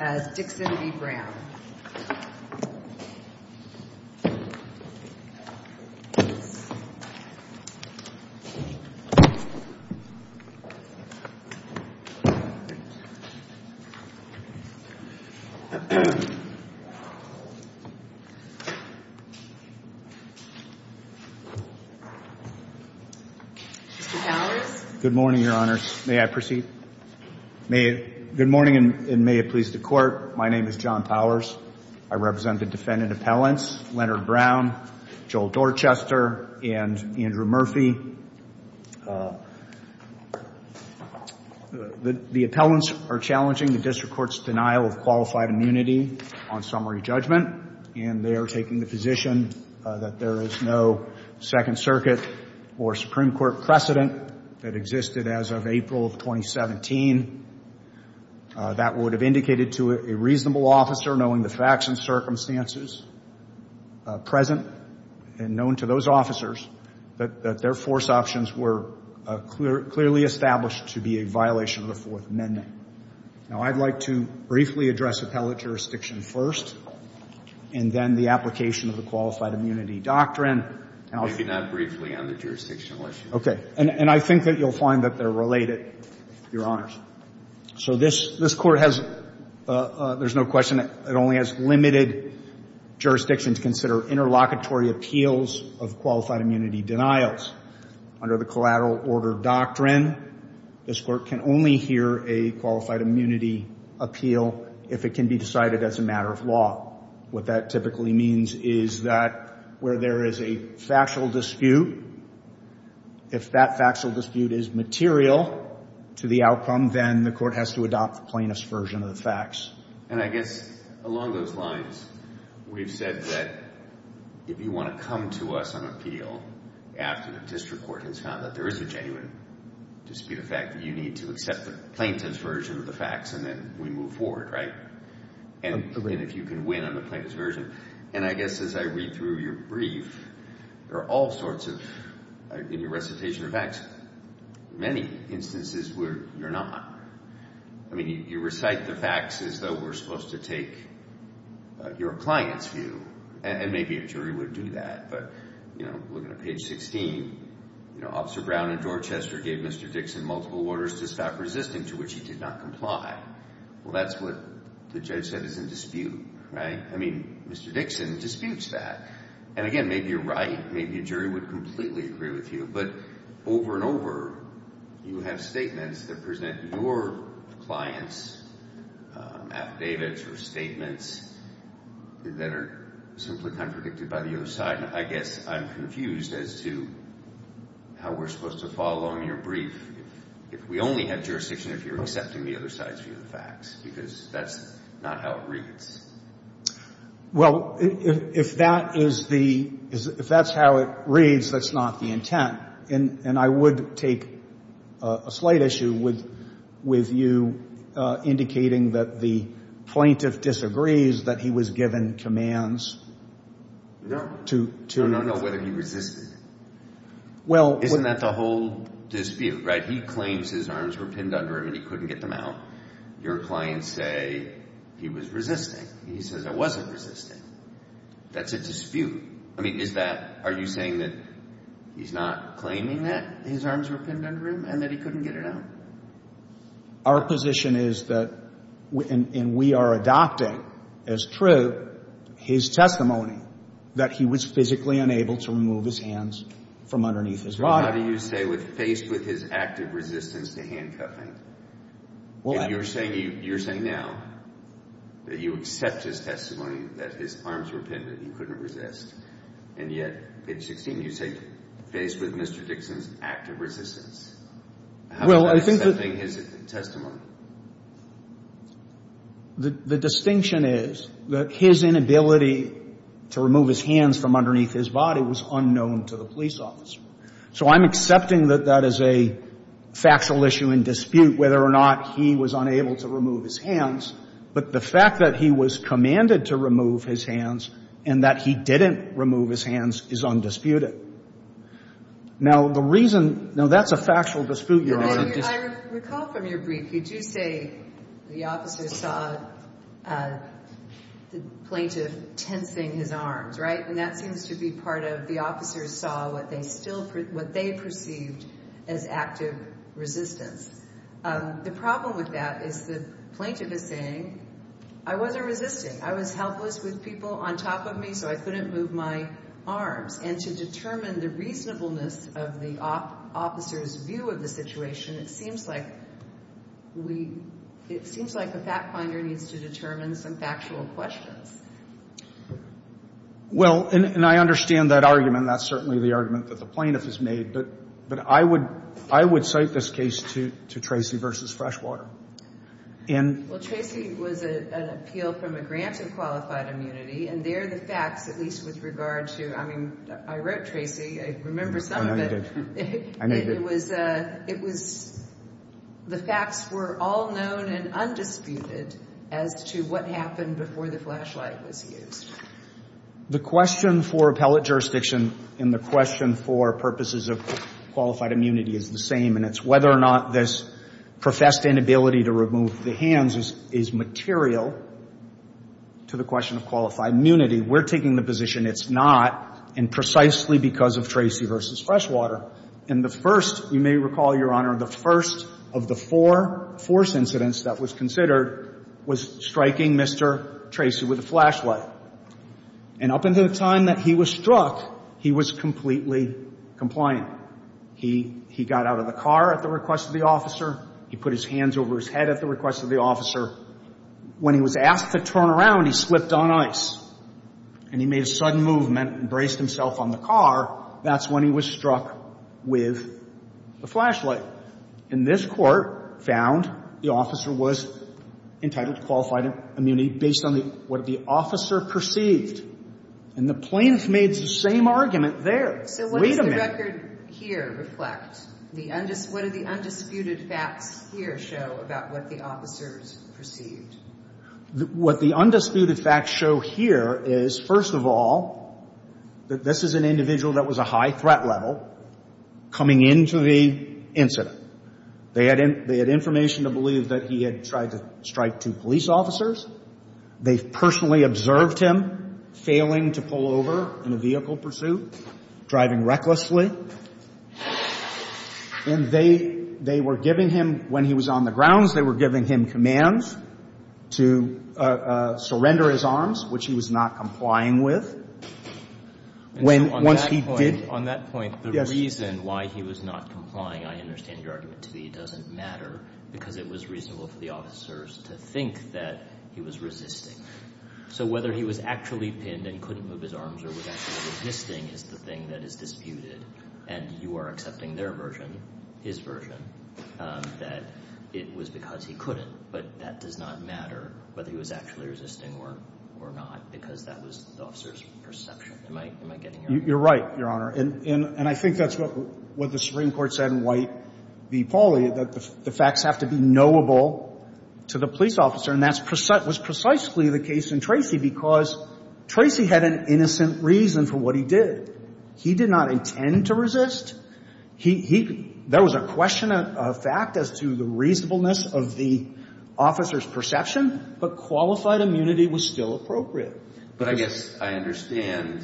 as Dixon v. Brown. Good morning, Your Honors. May I proceed? Good morning, and may it please the Court. My name is John Powers. I represent the defendant appellants Leonard Brown, Joel Dorchester, and Andrew Murphy. The appellants are challenging the District Court's denial of qualified immunity on summary judgment, and they are taking the position that there is no Second Circuit or Supreme Court judgment. And I would like to briefly address appellate jurisdiction first, and then the application of the Qualified Immunity Doctrine. Maybe not briefly on the jurisdictional issue. Okay. And I think that you'll find that they're related, Your Honors. So this Court has, there's no question, it only has limited jurisdiction to consider interlocutory appeals of qualified immunity denials. Under the Collateral Order Doctrine, this Court can only hear a qualified immunity appeal if it can be decided as a matter of law. What that typically means is that where there is a factual dispute, if that factual dispute is material to the outcome, then the Court has to adopt the plaintiff's version of the And I guess along those lines, we've said that if you want to come to us on appeal after the District Court has found that there is a genuine dispute, the fact that you need to accept the plaintiff's version of the facts, and then we move forward, right? Absolutely. And if you can win on the plaintiff's version. And I guess as I read through your brief, there are all sorts of, in your recitation of facts, many instances where you're not. I mean, you recite the facts as though we're supposed to take your client's view. And maybe a jury would do that, but, you know, looking at page 16, you know, Officer Brown and Dorchester gave Mr. Dixon multiple orders to stop resisting, to which he did not comply. Well, that's what the judge said is in dispute, right? I mean, Mr. Dixon disputes that. And again, maybe you're right, maybe a jury would completely agree with you, but over and over, you have statements that present your client's affidavits or statements that are simply contradicted by the other side. And I guess I'm confused as to how we're supposed to follow on your brief if we only have jurisdiction if you're accepting the other side's view of the facts, because that's not how it reads. Well, if that is the, if that's how it reads, that's not the intent. And I would take a slight issue with you indicating that the plaintiff disagrees that he was given commands to... No, no, no, whether he resisted. Isn't that the whole dispute, right? He claims his arms were pinned under him and he couldn't get them out. Your clients say he was resisting. He says I wasn't resisting. That's a dispute. I mean, is that, are you saying that he's not claiming that his arms were pinned under him and that he couldn't get it out? Our position is that, and we are adopting as true his testimony that he was physically unable to remove his hands from underneath his body. How do you say, faced with his active resistance to handcuffing, and you're saying now that you accept his testimony that his arms were pinned and he couldn't resist, and yet at 16 you say, faced with Mr. Dixon's active resistance, how is that accepting his testimony? The distinction is that his inability to remove his hands from underneath his body was unknown to the police officer. So I'm accepting that that is a factual issue in dispute, whether or not he was unable to remove his hands, but the fact that he was commanded to remove his hands and that he didn't remove his hands is undisputed. Now, the reason, now that's a factual dispute, Your Honor. I recall from your brief, you do say the officer saw the plaintiff tensing his arms, right? And that seems to be part of the officer saw what they perceived as active resistance. The problem with that is the plaintiff is saying, I wasn't resisting. I was helpless with people on top of me, so I couldn't move my arms. And to determine the reasonableness of the officer's view of the situation, it seems like the fact finder needs to determine some factual questions. Well, and I understand that argument. That's certainly the argument that the plaintiff has made, but I would cite this case to Tracy v. Freshwater. Well, Tracy was an appeal from a grant of qualified immunity, and there the facts, at least with regard to, I mean, I wrote Tracy. I remember some of it. I made it. It was the facts were all known and undisputed as to what happened before the flashlight was used. The question for appellate jurisdiction and the question for purposes of qualified immunity is the same, and it's whether or not this professed inability to remove the hands is material to the question of qualified immunity. We're taking the position it's not, and precisely because of Tracy v. Freshwater. And the first, you may recall, Your Honor, the first of the four force incidents that was considered was striking Mr. Tracy with a flashlight. And up until the time that he was struck, he was completely compliant. He got out of the car at the request of the officer. He put his hands over his head at the request of the officer. When he was asked to turn around, he slipped on ice, and he made a sudden movement and braced himself on the car. That's when he was struck with the flashlight. And this Court found the officer was entitled to qualified immunity based on what the officer perceived. And the plaintiff made the same argument there. Wait a minute. So what does the record here reflect? What do the undisputed facts here show about what the officers perceived? What the undisputed facts show here is, first of all, that this is an individual that was a high threat level coming into the incident. They had information to believe that he had tried to strike two police officers. They personally observed him failing to pull over in a vehicle pursuit, driving recklessly. And they were giving him, when he was on the grounds, they were giving him commands to surrender his arms, which he was not complying with. Once he did — On that point, the reason why he was not complying, I understand your argument to me, doesn't matter because it was reasonable for the officers to think that he was resisting. So whether he was actually pinned and couldn't move his arms or was actually resisting is the thing that is disputed. And you are accepting their version, his version, that it was because he couldn't. But that does not matter whether he was actually resisting or not because that was the officer's perception. Am I getting your point? You're right, Your Honor. And I think that's what the Supreme Court said in White v. Pauly, that the facts have to be knowable to the police officer. And that was precisely the case in Tracy because Tracy had an innocent reason for what he did. He did not intend to resist. He — there was a question of fact as to the reasonableness of the officer's perception, but qualified immunity was still appropriate. But I guess I understand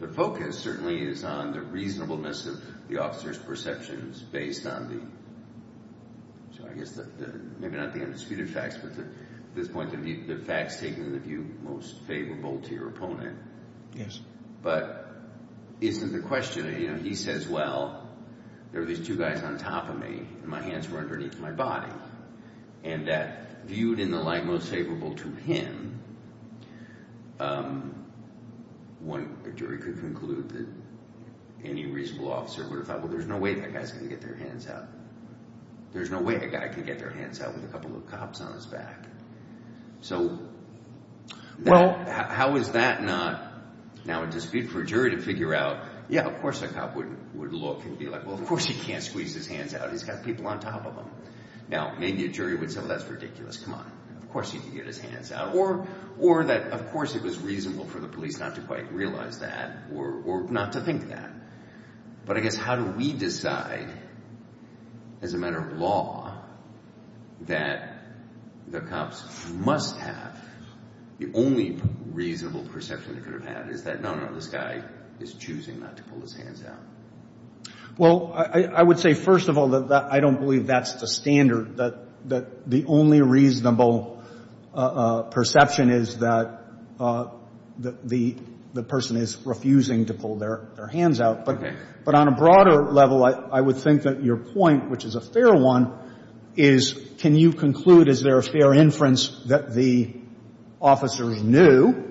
the focus certainly is on the reasonableness of the officer's perceptions based on the — so I guess the — maybe not the undisputed facts, but at this point the facts taken in the view most favorable to your opponent. But isn't the question, you know, he says, well, there were these two guys on top of me and my hands were underneath my body. And that viewed in the light most favorable to him, a jury could conclude that any reasonable officer would have thought, well, there's no way that guy's going to get their hands out. There's no way a guy can get their hands out with a couple of cops on his back. So how is that not now a dispute for a jury to figure out, yeah, of course a cop would look and be like, well, of course he can't squeeze his hands out. He's got people on top of him. Now, maybe a jury would say, well, that's ridiculous. Come on. Of course he can get his hands out. Or that, of course, it was reasonable for the police not to quite realize that or not to think that. But I guess how do we decide as a matter of law that the cops must have — the only reasonable perception they could have had is that, no, no, this guy is choosing not to pull his hands out. Well, I would say, first of all, that I don't believe that's the standard, that the only reasonable perception is that the person is refusing to pull their hands out. Okay. But on a broader level, I would think that your point, which is a fair one, is can you conclude, is there a fair inference that the officers knew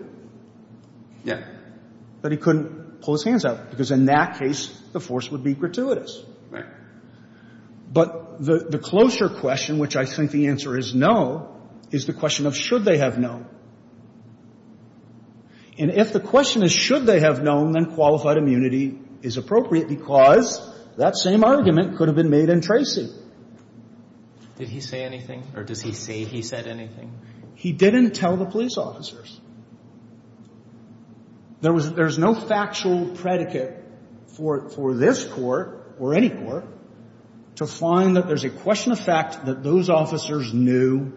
that he couldn't pull his hands out? Because in that case, the force would be gratuitous. Right. But the closer question, which I think the answer is no, is the question of should they have known. And if the question is should they have known, then qualified immunity is appropriate because that same argument could have been made in Tracy. Did he say anything? Or does he say he said anything? He didn't tell the police officers. There was — there's no factual predicate for this Court or any court to find that there's a question of fact that those officers knew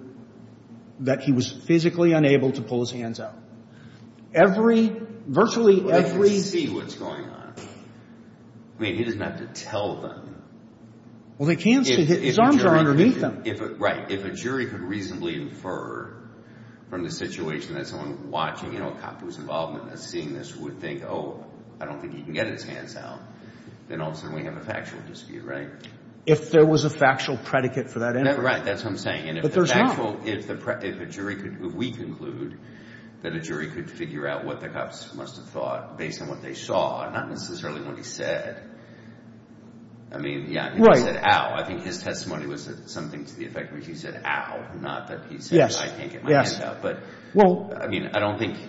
that he was physically unable to pull his hands out. Every — virtually every — Well, they can see what's going on. I mean, he doesn't have to tell them. Well, they can see. His arms are underneath them. Right. If a jury could reasonably infer from the situation that someone watching, you know, a cop whose involvement in seeing this would think, oh, I don't think he can get his hands out, then all of a sudden we have a factual dispute, right? If there was a factual predicate for that inference. Right. That's what I'm saying. But there's not. And if a jury could — if we conclude that a jury could figure out what the cops must have thought based on what they saw, not necessarily what he said, I mean, yeah. Right. He said, ow. I think his testimony was something to the effect where he said, ow, not that he said I can't get my hands out. Yes. But, I mean, I don't think —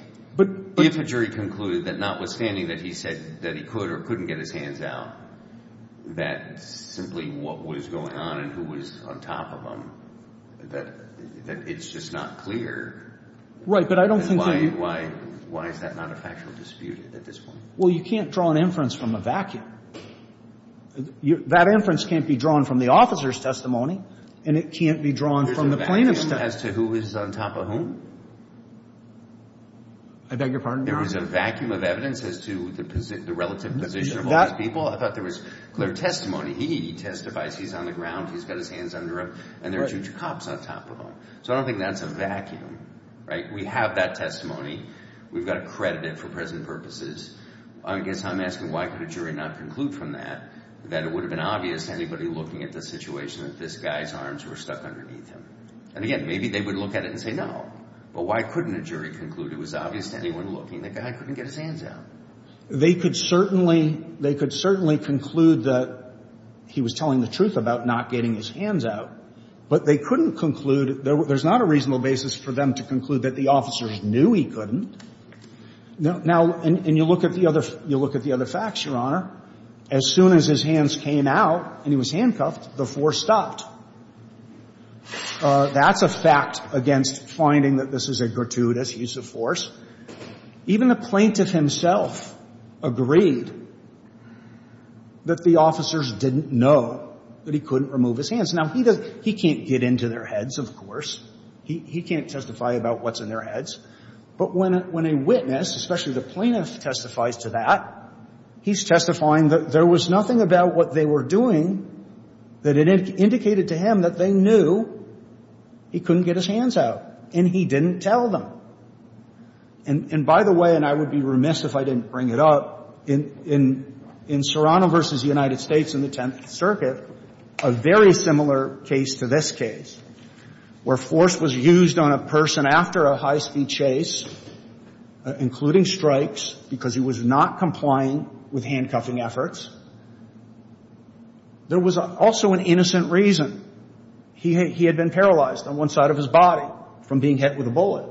if a jury concluded that notwithstanding that he said that he could or couldn't get his hands out, that simply what was going on and who was on top of him, that it's just not clear. Right. But I don't think — Why is that not a factual dispute at this point? Well, you can't draw an inference from a vacuum. That inference can't be drawn from the officer's testimony, and it can't be drawn from the plaintiff's testimony. There's a vacuum as to who is on top of whom? I beg your pardon, Your Honor? There is a vacuum of evidence as to the relative position of all these people. I thought there was clear testimony. He testifies. He's on the ground. He's got his hands under him. And there are two cops on top of him. So I don't think that's a vacuum. Right? We have that testimony. We've got to credit it for present purposes. I guess I'm asking why could a jury not conclude from that that it would have been obvious to anybody looking at the situation that this guy's arms were stuck underneath him? And, again, maybe they would look at it and say no. But why couldn't a jury conclude it was obvious to anyone looking that the guy couldn't get his hands out? They could certainly conclude that he was telling the truth about not getting his hands out. But they couldn't conclude — there's not a reasonable basis for them to conclude that the officers knew he couldn't. Now, and you look at the other facts, Your Honor. As soon as his hands came out and he was handcuffed, the force stopped. That's a fact against finding that this is a gratuitous use of force. Even the plaintiff himself agreed that the officers didn't know that he couldn't remove his hands. Now, he can't get into their heads, of course. He can't testify about what's in their heads. But when a witness, especially the plaintiff, testifies to that, he's testifying that there was nothing about what they were doing that indicated to him that they knew he couldn't get his hands out, and he didn't tell them. And, by the way, and I would be remiss if I didn't bring it up, in Serrano v. United States in the Tenth Circuit, a very similar case to this case, where force was used on a person after a high-speed chase, including strikes, because he was not complying with handcuffing efforts, there was also an innocent reason. He had been paralyzed on one side of his body from being hit with a bullet.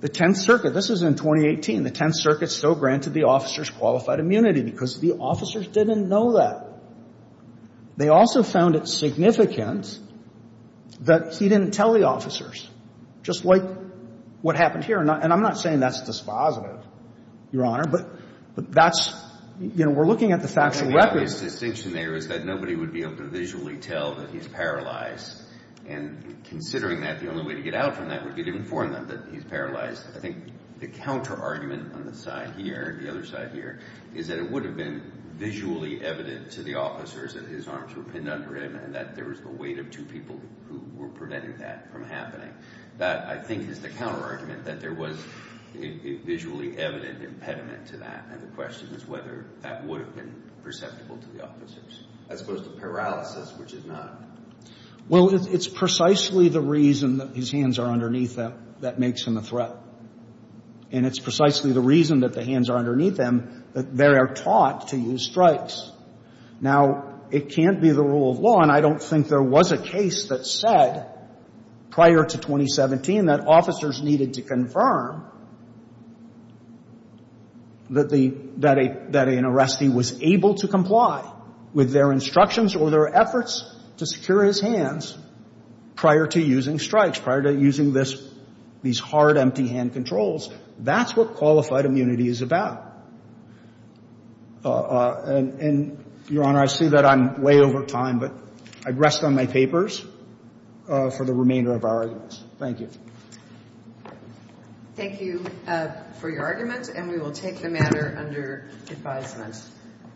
The Tenth Circuit, this is in 2018, the Tenth Circuit still granted the officers qualified immunity because the officers didn't know that. They also found it significant that he didn't tell the officers, just like what happened here. And I'm not saying that's dispositive, Your Honor, but that's, you know, we're looking at the factual record. Well, the obvious distinction there is that nobody would be able to visually tell that he's paralyzed. And considering that, the only way to get out from that would be to inform them that he's paralyzed. I think the counterargument on the side here, the other side here, is that it would have been visually evident to the officers that his arms were pinned under him and that there was the weight of two people who were preventing that from happening. That, I think, is the counterargument, that there was a visually evident impediment to that. And the question is whether that would have been perceptible to the officers, as opposed to paralysis, which it's not. Well, it's precisely the reason that his hands are underneath them that makes him a threat. And it's precisely the reason that the hands are underneath them that they are taught to use strikes. Now, it can't be the rule of law, and I don't think there was a case that said prior to 2017 that officers needed to confirm that an arrestee was able to comply with their instructions or their efforts to secure his hands prior to using strikes, prior to using these hard, empty-hand controls. That's what qualified immunity is about. And, Your Honor, I see that I'm way over time, but I rest on my papers for the remainder of our arguments. Thank you. Thank you for your arguments, and we will take the matter under advisement.